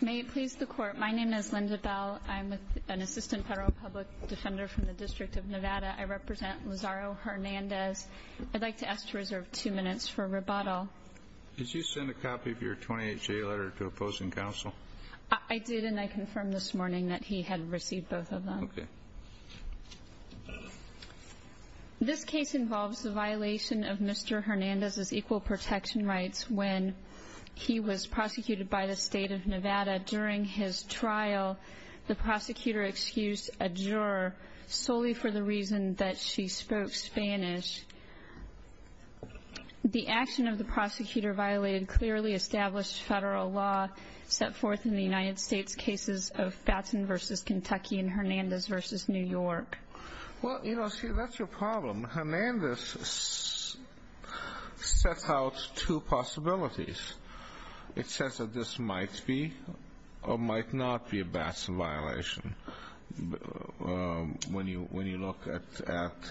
May it please the court. My name is Linda Bell. I'm an assistant federal public defender from the District of Nevada. I represent Lazaro Hernandez. I'd like to ask to reserve two minutes for rebuttal. Did you send a copy of your 28-J letter to opposing counsel? I did and I confirmed this morning that he had received both of them. Okay. This case involves the violation of Mr. Hernandez's equal protection rights when he was prosecuted by the State of Nevada. During his trial, the prosecutor excused a juror solely for the reason that she spoke Spanish. The action of the prosecutor violated clearly established federal law set forth in the United States cases of Batson v. Kentucky and Hernandez v. New York. Well, you know, see, that's your problem. Hernandez sets out two possibilities. It says that this might be or might not be a Batson violation when you look at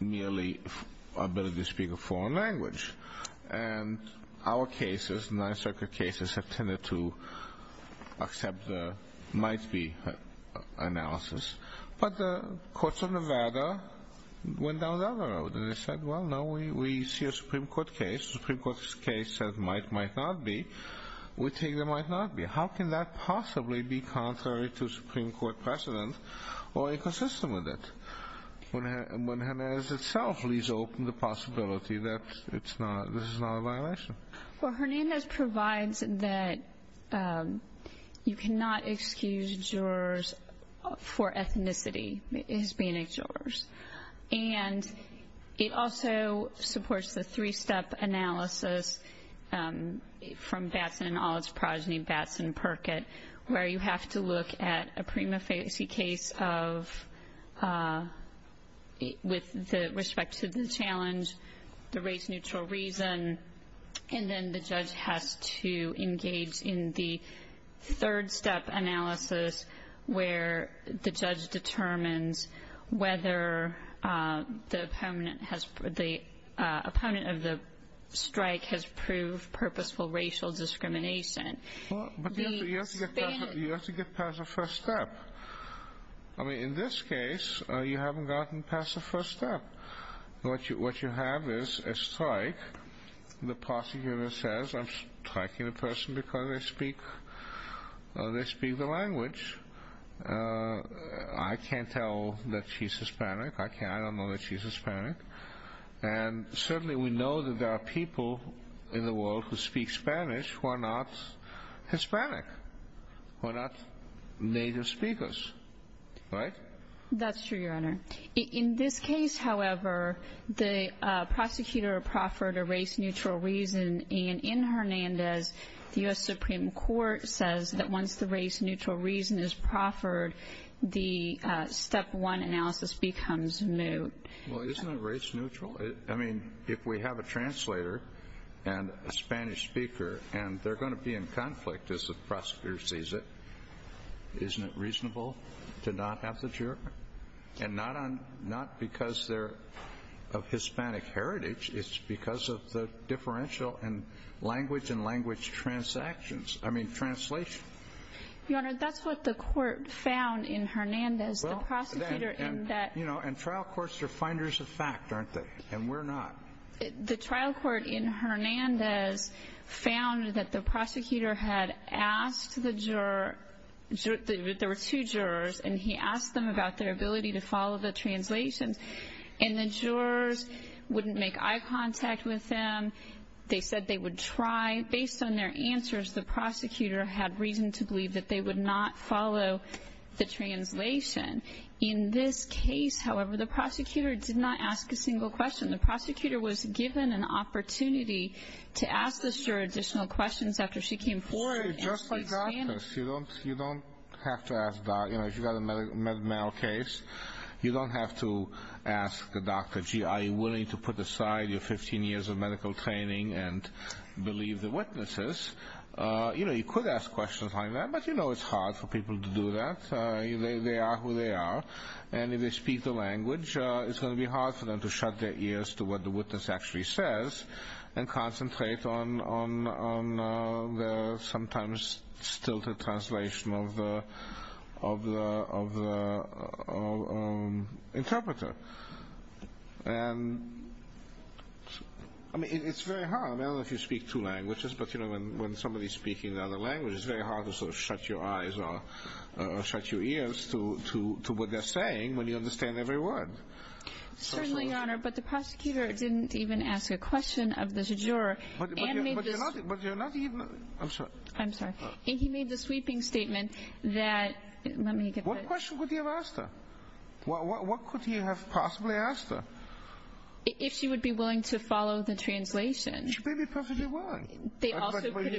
merely ability to speak a foreign language. And our cases, Ninth Circuit cases, have tended to accept the might be analysis. But the courts of Nevada went down that road and they said, well, no, we see a Supreme Court case. The Supreme Court's case says might, might not be. We take the might not be. How can that possibly be contrary to Supreme Court precedent or inconsistent with it? When Hernandez itself leaves open the possibility that this is not a violation. Well, Hernandez provides that you cannot excuse jurors for ethnicity, Hispanic jurors. And it also supports the three-step analysis from Batson and Allitt's progeny, Batson and Perkett, where you have to look at a prima facie case with respect to the challenge, the race-neutral reason. And then the judge has to engage in the third-step analysis where the judge determines whether the opponent has, the opponent of the strike has proved purposeful racial discrimination. But you have to get past the first step. I mean, in this case, you haven't gotten past the first step. What you have is a strike. The prosecutor says, I'm striking a person because they speak the language. I can't tell that she's Hispanic. I don't know that she's Hispanic. And certainly we know that there are people in the world who speak Spanish who are not Hispanic, who are not native speakers. Right? That's true, Your Honor. In this case, however, the prosecutor proffered a race-neutral reason. And in Hernandez, the U.S. Supreme Court says that once the race-neutral reason is proffered, the step one analysis becomes moot. Well, isn't it race-neutral? I mean, if we have a translator and a Spanish speaker and they're going to be in conflict as the prosecutor sees it, isn't it reasonable to not have the juror? And not because they're of Hispanic heritage. It's because of the differential in language and language transactions. I mean, translation. Your Honor, that's what the court found in Hernandez. Well, and trial courts are finders of fact, aren't they? And we're not. The trial court in Hernandez found that the prosecutor had asked the juror, there were two jurors, and he asked them about their ability to follow the translations. And the jurors wouldn't make eye contact with them. They said they would try. Based on their answers, the prosecutor had reason to believe that they would not follow the translation. In this case, however, the prosecutor did not ask a single question. The prosecutor was given an opportunity to ask the juror additional questions after she came forward. You don't have to ask, you know, if you've got a male case, you don't have to ask the doctor, gee, are you willing to put aside your 15 years of medical training and believe the witnesses? You know, you could ask questions like that, but you know it's hard for people to do that. They are who they are. And if they speak the language, it's going to be hard for them to shut their ears to what the witness actually says and concentrate on the sometimes stilted translation of the interpreter. And, I mean, it's very hard. I mean, I don't know if you speak two languages, but, you know, when somebody's speaking the other language, it's very hard to sort of shut your eyes or shut your ears to what they're saying when you understand every word. Certainly, Your Honor, but the prosecutor didn't even ask a question of the juror. But you're not even – I'm sorry. I'm sorry. And he made the sweeping statement that – let me get that. What question could he have asked her? What could he have possibly asked her? If she would be willing to follow the translation. She may be perfectly willing.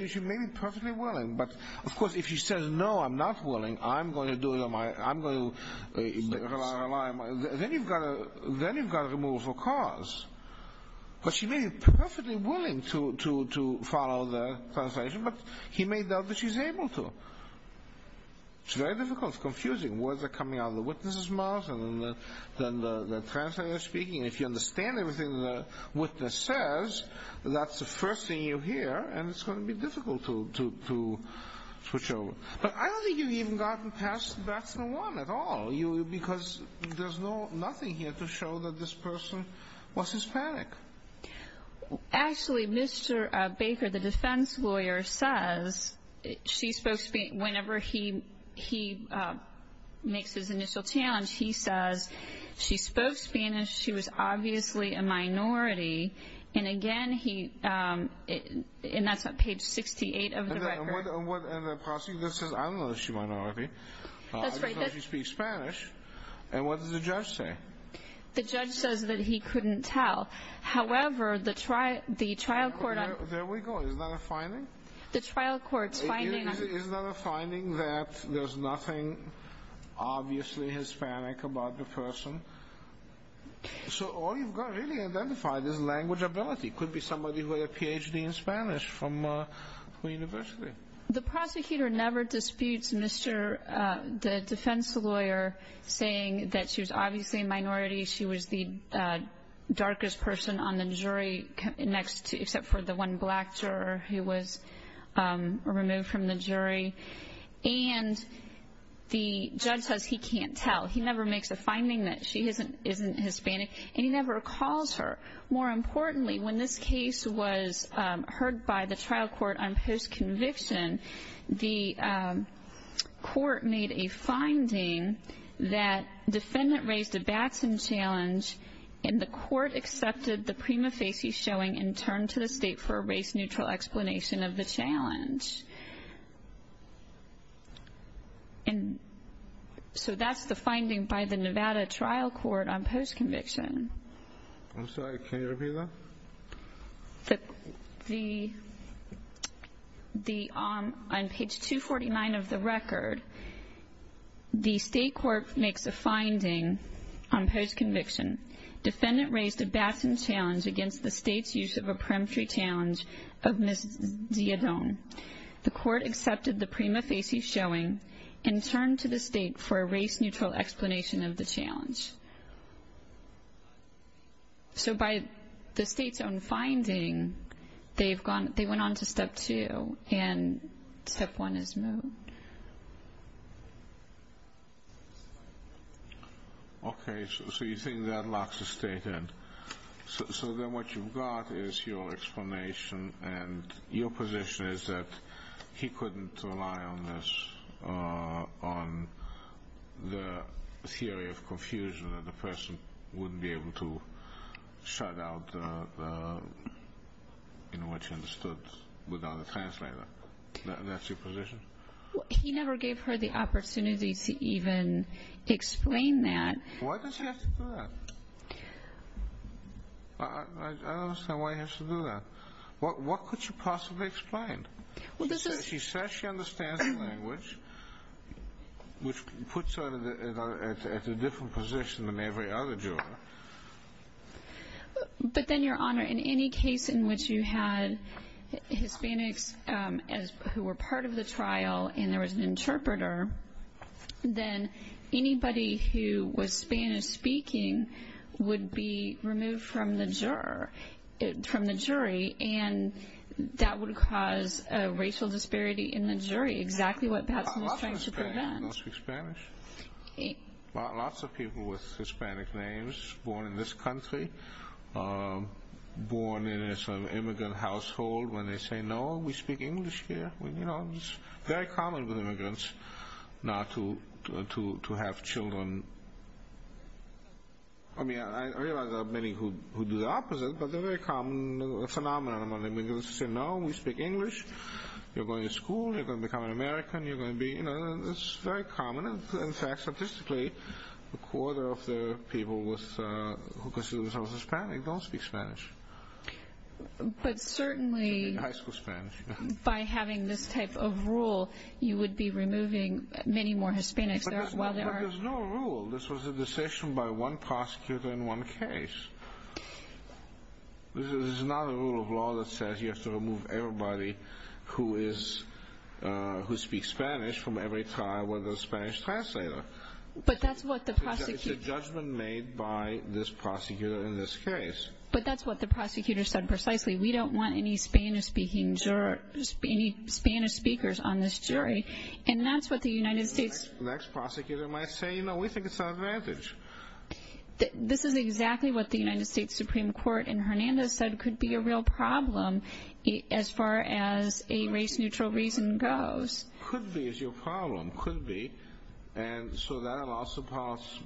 She may be perfectly willing. But, of course, if she says, no, I'm not willing. I'm going to do it on my own. Then you've got a removal for cause. But she may be perfectly willing to follow the translation, but he may doubt that she's able to. It's very difficult. It's confusing. Words are coming out of the witness's mouth and then the translator is speaking. And if you understand everything the witness says, that's the first thing you hear. And it's going to be difficult to switch over. But I don't think you've even gotten past batch number one at all. Because there's nothing here to show that this person was Hispanic. Actually, Mr. Baker, the defense lawyer, says whenever he makes his initial challenge, he says, she spoke Spanish, she was obviously a minority. And, again, that's on page 68 of the record. And the prosecutor says, I don't know if she's a minority. I just know she speaks Spanish. And what does the judge say? The judge says that he couldn't tell. However, the trial court on the trial court. Is there a finding that there's nothing obviously Hispanic about the person? So all you've got really identified is language ability. It could be somebody who had a Ph.D. in Spanish from a university. The prosecutor never disputes the defense lawyer saying that she was obviously a minority. She was the darkest person on the jury, except for the one black juror who was removed from the jury. And the judge says he can't tell. He never makes a finding that she isn't Hispanic. And he never calls her. More importantly, when this case was heard by the trial court on post-conviction, the court made a finding that defendant raised a Batson challenge, and the court accepted the prima facie showing and turned to the state for a race-neutral explanation of the challenge. And so that's the finding by the Nevada trial court on post-conviction. I'm sorry. Can you repeat that? On page 249 of the record, the state court makes a finding on post-conviction. Defendant raised a Batson challenge against the state's use of a peremptory challenge of Ms. Diodone. The court accepted the prima facie showing and turned to the state for a race-neutral explanation of the challenge. So by the state's own finding, they went on to step two, and step one is moved. Okay, so you think that locks the state in. So then what you've got is your explanation, and your position is that he couldn't rely on the theory of confusion, that the person wouldn't be able to shut out what you understood without a translator. That's your position? He never gave her the opportunity to even explain that. Why does he have to do that? I don't understand why he has to do that. What could she possibly explain? She says she understands the language, which puts her at a different position than every other juror. But then, Your Honor, in any case in which you had Hispanics who were part of the trial and there was an interpreter, then anybody who was Spanish-speaking would be removed from the jury, and that would cause a racial disparity in the jury, exactly what Patson was trying to prevent. I don't speak Spanish. Lots of people with Hispanic names born in this country, born in an immigrant household, when they say, No, we speak English here. It's very common with immigrants not to have children. I realize there are many who do the opposite, but there's a phenomenon among immigrants who say, No, we speak English. You're going to school, you're going to become an American. It's very common. In fact, statistically, a quarter of the people who consider themselves Hispanic don't speak Spanish. But certainly, by having this type of rule, you would be removing many more Hispanics. But there's no rule. This was a decision by one prosecutor in one case. This is not a rule of law that says you have to remove everybody who speaks Spanish from every trial with a Spanish translator. But that's what the prosecution... It's a judgment made by this prosecutor in this case. But that's what the prosecutor said precisely. We don't want any Spanish speakers on this jury. And that's what the United States... The next prosecutor might say, No, we think it's an advantage. This is exactly what the United States Supreme Court in Hernandez said could be a real problem as far as a race-neutral reason goes. Could be is your problem. Could be. And so that allows the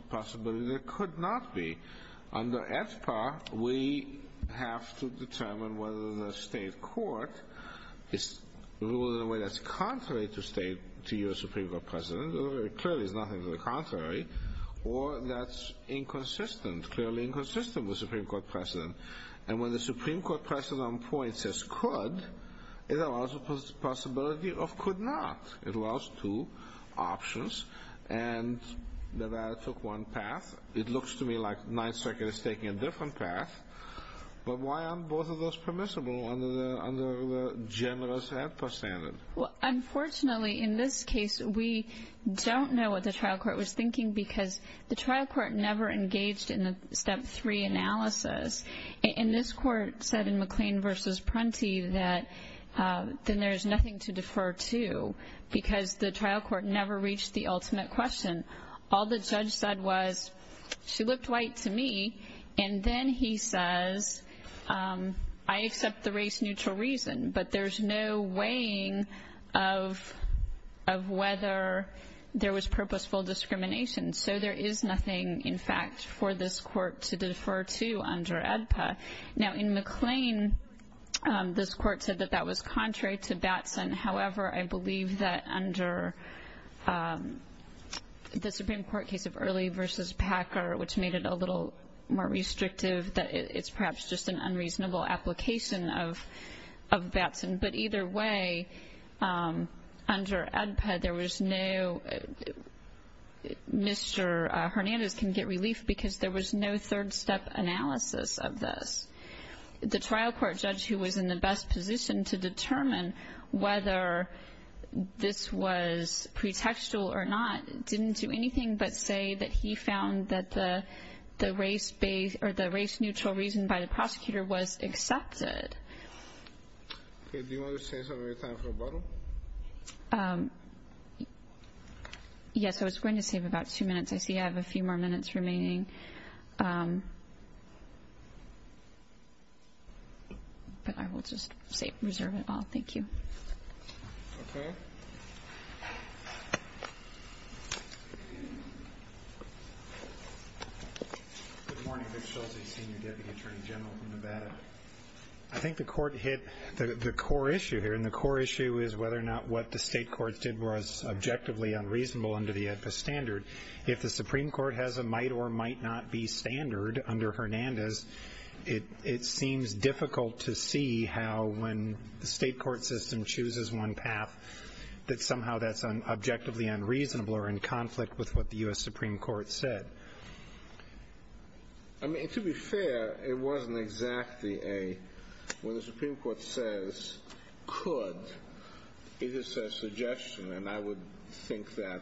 possibility that it could not be. Under AEDPA, we have to determine whether the state court rules in a way that's contrary to your Supreme Court precedent. Clearly, it's nothing to the contrary. Or that's inconsistent, clearly inconsistent with the Supreme Court precedent. And when the Supreme Court precedent on point says could, it allows the possibility of could not. It allows two options. And Nevada took one path. It looks to me like Ninth Circuit is taking a different path. But why aren't both of those permissible under the general AEDPA standard? Well, unfortunately, in this case, we don't know what the trial court was thinking because the trial court never engaged in the Step 3 analysis. And this court said in McLean v. Prunty that then there's nothing to defer to because the trial court never reached the ultimate question. All the judge said was she looked white to me. And then he says I accept the race-neutral reason, but there's no weighing of whether there was purposeful discrimination. So there is nothing, in fact, for this court to defer to under AEDPA. Now, in McLean, this court said that that was contrary to Batson. However, I believe that under the Supreme Court case of Early v. Packer, which made it a little more restrictive, that it's perhaps just an unreasonable application of Batson. But either way, under AEDPA, there was no Mr. Hernandez can get relief because there was no third-step analysis of this. The trial court judge, who was in the best position to determine whether this was pretextual or not, didn't do anything but say that he found that the race-based or the race-neutral reason by the prosecutor was accepted. Okay. Do you want to save some of your time for rebuttal? Yes. I was going to save about two minutes. I see I have a few more minutes remaining, but I will just reserve it all. Thank you. Okay. Good morning. Rick Schulze, Senior Deputy Attorney General from Nevada. I think the court hit the core issue here, and the core issue is whether or not what the state courts did was objectively unreasonable under the AEDPA standard. If the Supreme Court has a might-or-might-not-be standard under Hernandez, it seems difficult to see how, when the state court system chooses one path, that somehow that's objectively unreasonable or in conflict with what the U.S. Supreme Court said. I mean, to be fair, it wasn't exactly a, when the Supreme Court says could, it is a suggestion, and I would think that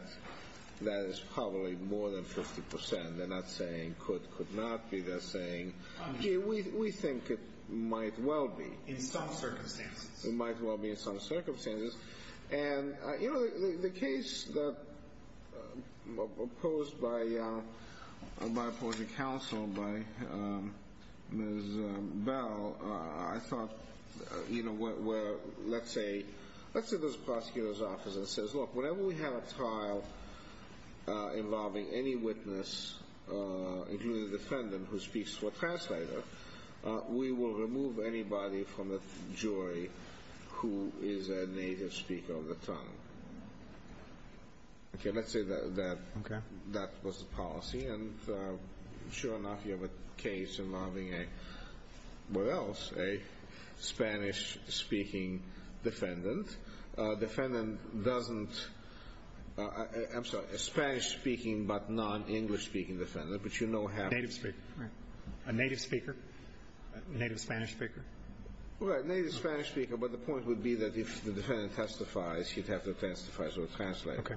that is probably more than 50%. They're not saying could, could not be. They're saying we think it might well be. In some circumstances. It might well be in some circumstances. And, you know, the case that was proposed by opposing counsel by Ms. Bell, I thought, you know, where, let's say, let's say there's a prosecutor's office that says, look, whenever we have a trial involving any witness, including the defendant who speaks for a translator, we will remove anybody from the jury who is a native speaker of the tongue. Okay, let's say that that was the policy, and sure enough you have a case involving a, what else, a Spanish-speaking defendant. A defendant doesn't, I'm sorry, a Spanish-speaking but non-English-speaking defendant, but you know how. Native speaker. Right. A native speaker. A native Spanish speaker. Well, a native Spanish speaker, but the point would be that if the defendant testifies, he'd have to testify as a translator. Okay.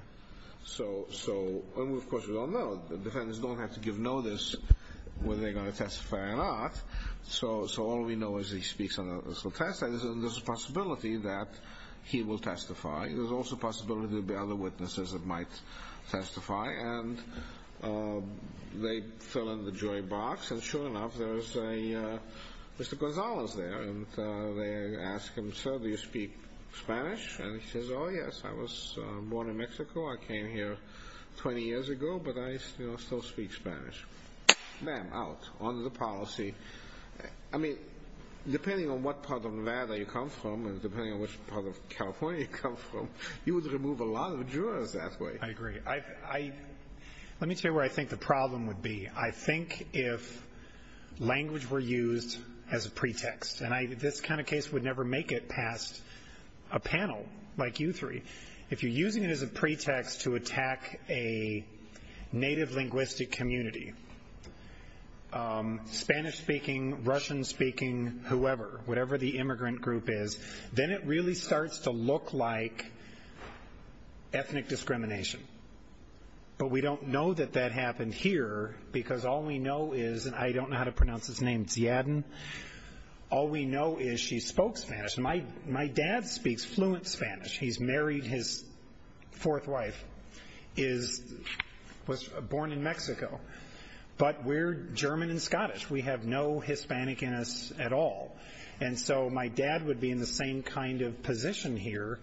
So, and of course we don't know. Defendants don't have to give notice whether they're going to testify or not. So all we know is he speaks on a test, and there's a possibility that he will testify. There's also a possibility there will be other witnesses that might testify, and they fill in the jury box, and sure enough there's a, Mr. Gonzalez there, and they ask him, sir, do you speak Spanish? And he says, oh, yes, I was born in Mexico. I came here 20 years ago, but I still speak Spanish. Bam, out, under the policy. I mean, depending on what part of Nevada you come from and depending on which part of California you come from, you would remove a lot of jurors that way. I agree. Let me tell you where I think the problem would be. I think if language were used as a pretext, and this kind of case would never make it past a panel like you three. If you're using it as a pretext to attack a native linguistic community, Spanish-speaking, Russian-speaking, whoever, whatever the immigrant group is, then it really starts to look like ethnic discrimination. But we don't know that that happened here because all we know is, and I don't know how to pronounce his name, Ziadon, all we know is she spoke Spanish. My dad speaks fluent Spanish. He's married. His fourth wife was born in Mexico. But we're German and Scottish. We have no Hispanic in us at all. And so my dad would be in the same kind of position here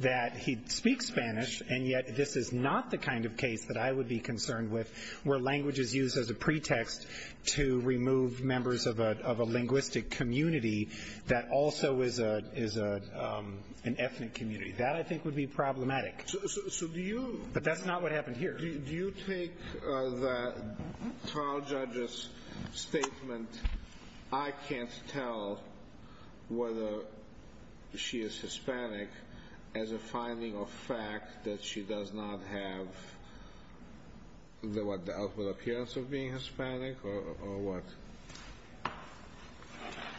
that he'd speak Spanish, and yet this is not the kind of case that I would be concerned with where language is used as a pretext to remove members of a linguistic community that also is an ethnic community. That, I think, would be problematic. But that's not what happened here. Do you take the trial judge's statement, I can't tell whether she is Hispanic, as a finding of fact that she does not have the ultimate appearance of being Hispanic or what?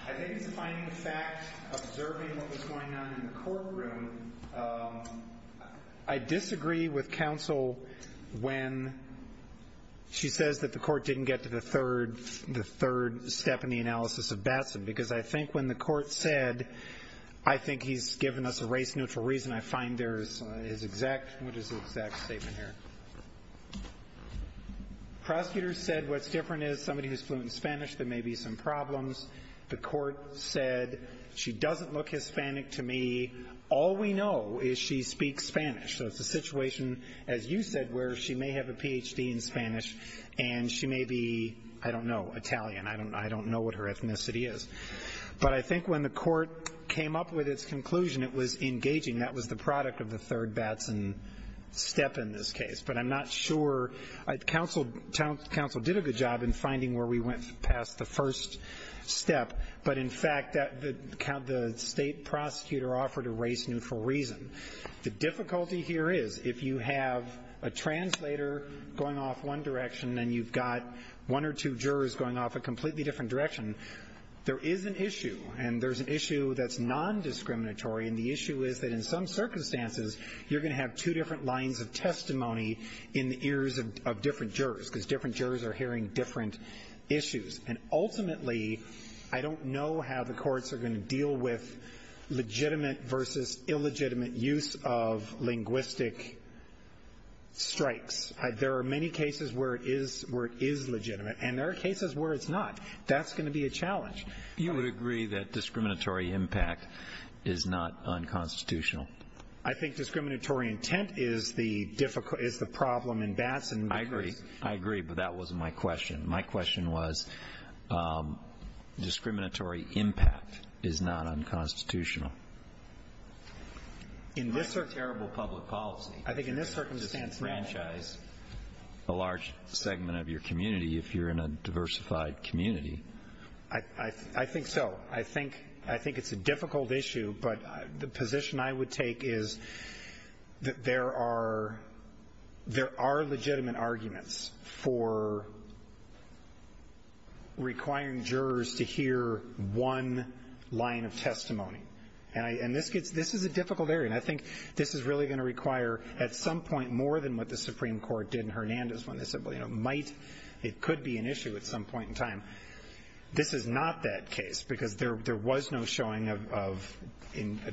I think it's a finding of fact observing what was going on in the courtroom. I disagree with counsel when she says that the court didn't get to the third step in the analysis of Batson because I think when the court said, I think he's given us a race-neutral reason, I find there is his exact statement here. Prosecutors said what's different is somebody who's fluent in Spanish, there may be some problems. The court said she doesn't look Hispanic to me. All we know is she speaks Spanish. So it's a situation, as you said, where she may have a Ph.D. in Spanish, and she may be, I don't know, Italian. I don't know what her ethnicity is. But I think when the court came up with its conclusion, it was engaging. That was the product of the third Batson step in this case. But I'm not sure counsel did a good job in finding where we went past the first step. But, in fact, the state prosecutor offered a race-neutral reason. The difficulty here is if you have a translator going off one direction and you've got one or two jurors going off a completely different direction, there is an issue, and there's an issue that's nondiscriminatory. And the issue is that in some circumstances, you're going to have two different lines of testimony in the ears of different jurors because different jurors are hearing different issues. And ultimately, I don't know how the courts are going to deal with legitimate versus illegitimate use of linguistic strikes. There are many cases where it is legitimate, and there are cases where it's not. That's going to be a challenge. You would agree that discriminatory impact is not unconstitutional? I think discriminatory intent is the problem in Batson. I agree. I agree, but that wasn't my question. My question was discriminatory impact is not unconstitutional. In this circumstance. It might be terrible public policy to disenfranchise a large segment of your community if you're in a diversified community. I think so. I think it's a difficult issue, but the position I would take is that there are legitimate arguments for requiring jurors to hear one line of testimony. And this is a difficult area, and I think this is really going to require at some point more than what the Supreme This is not that case because there was no showing of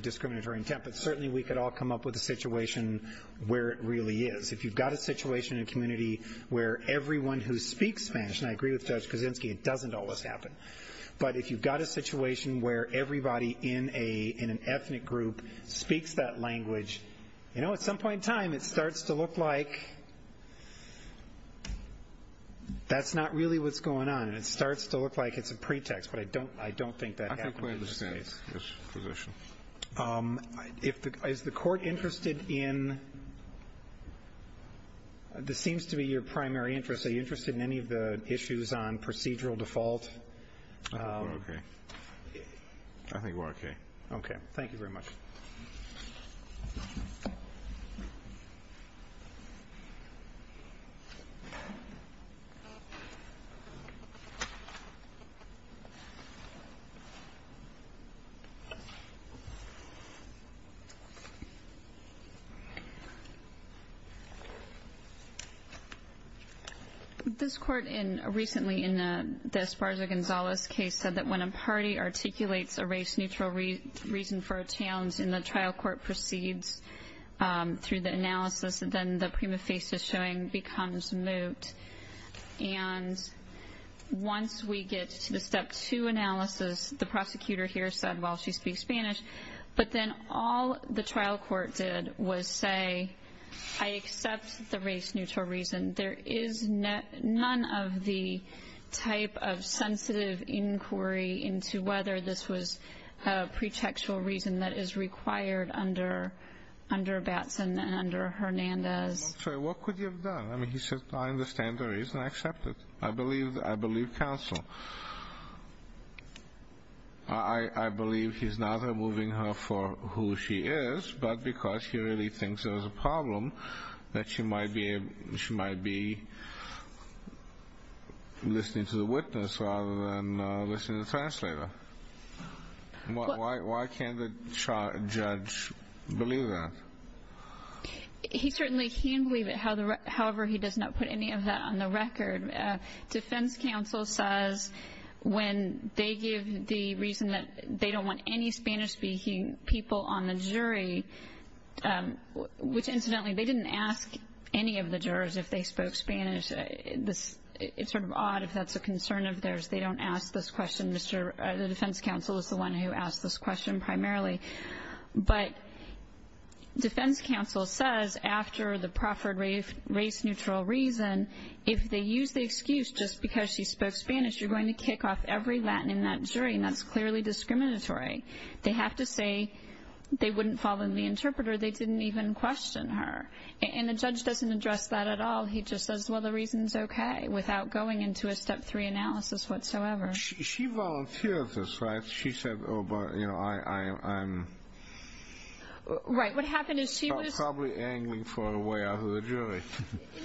discriminatory intent, but certainly we could all come up with a situation where it really is. If you've got a situation in a community where everyone who speaks Spanish, and I agree with Judge Kuczynski, it doesn't always happen. But if you've got a situation where everybody in an ethnic group speaks that language, at some point in time it starts to look like that's not really what's going on and it starts to look like it's a pretext. But I don't think that happened in this case. I think we understand this position. Is the Court interested in, this seems to be your primary interest, are you interested in any of the issues on procedural default? I think we're okay. Okay. Thank you very much. Thank you. This Court, recently in the Esparza-Gonzalez case, said that when a party articulates a race-neutral reason for a challenge and the trial court proceeds through the analysis, then the prima facie showing becomes moot. And once we get to the step two analysis, the prosecutor here said, well, she speaks Spanish. But then all the trial court did was say, I accept the race-neutral reason. There is none of the type of sensitive inquiry into whether this was a pretextual reason that is required under Batson and under Hernandez. What could you have done? I mean, he said, I understand the reason. I accept it. I believe counsel. I believe he's not removing her for who she is, but because he really thinks there's a problem that she might be listening to the witness rather than listening to the translator. Why can't the judge believe that? He certainly can believe it. However, he does not put any of that on the record. Defense counsel says when they give the reason that they don't want any Spanish-speaking people on the jury, which incidentally they didn't ask any of the jurors if they spoke Spanish. It's sort of odd if that's a concern of theirs. They don't ask this question. The defense counsel is the one who asked this question primarily. But defense counsel says after the proffered race-neutral reason, if they use the excuse just because she spoke Spanish, you're going to kick off every Latin in that jury, and that's clearly discriminatory. They have to say they wouldn't follow the interpreter. They didn't even question her. And the judge doesn't address that at all. He just says, well, the reason's okay, without going into a step three analysis whatsoever. She volunteered this, right? She said, oh, but, you know, I'm probably angling for a way out of the jury.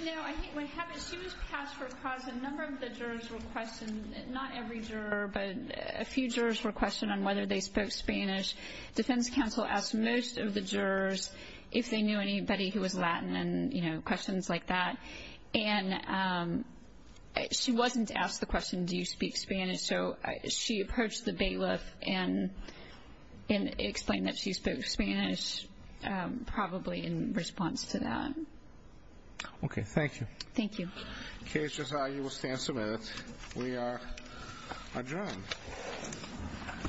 No, I think what happened is she was passed for a cause. A number of the jurors were questioned, not every juror, but a few jurors were questioned on whether they spoke Spanish. Defense counsel asked most of the jurors if they knew anybody who was Latin and, you know, questions like that. And she wasn't asked the question, do you speak Spanish? So she approached the bailiff and explained that she spoke Spanish probably in response to that. Okay. Thank you. Thank you. Okay, Josiah, you will stand for a minute. We are adjourned.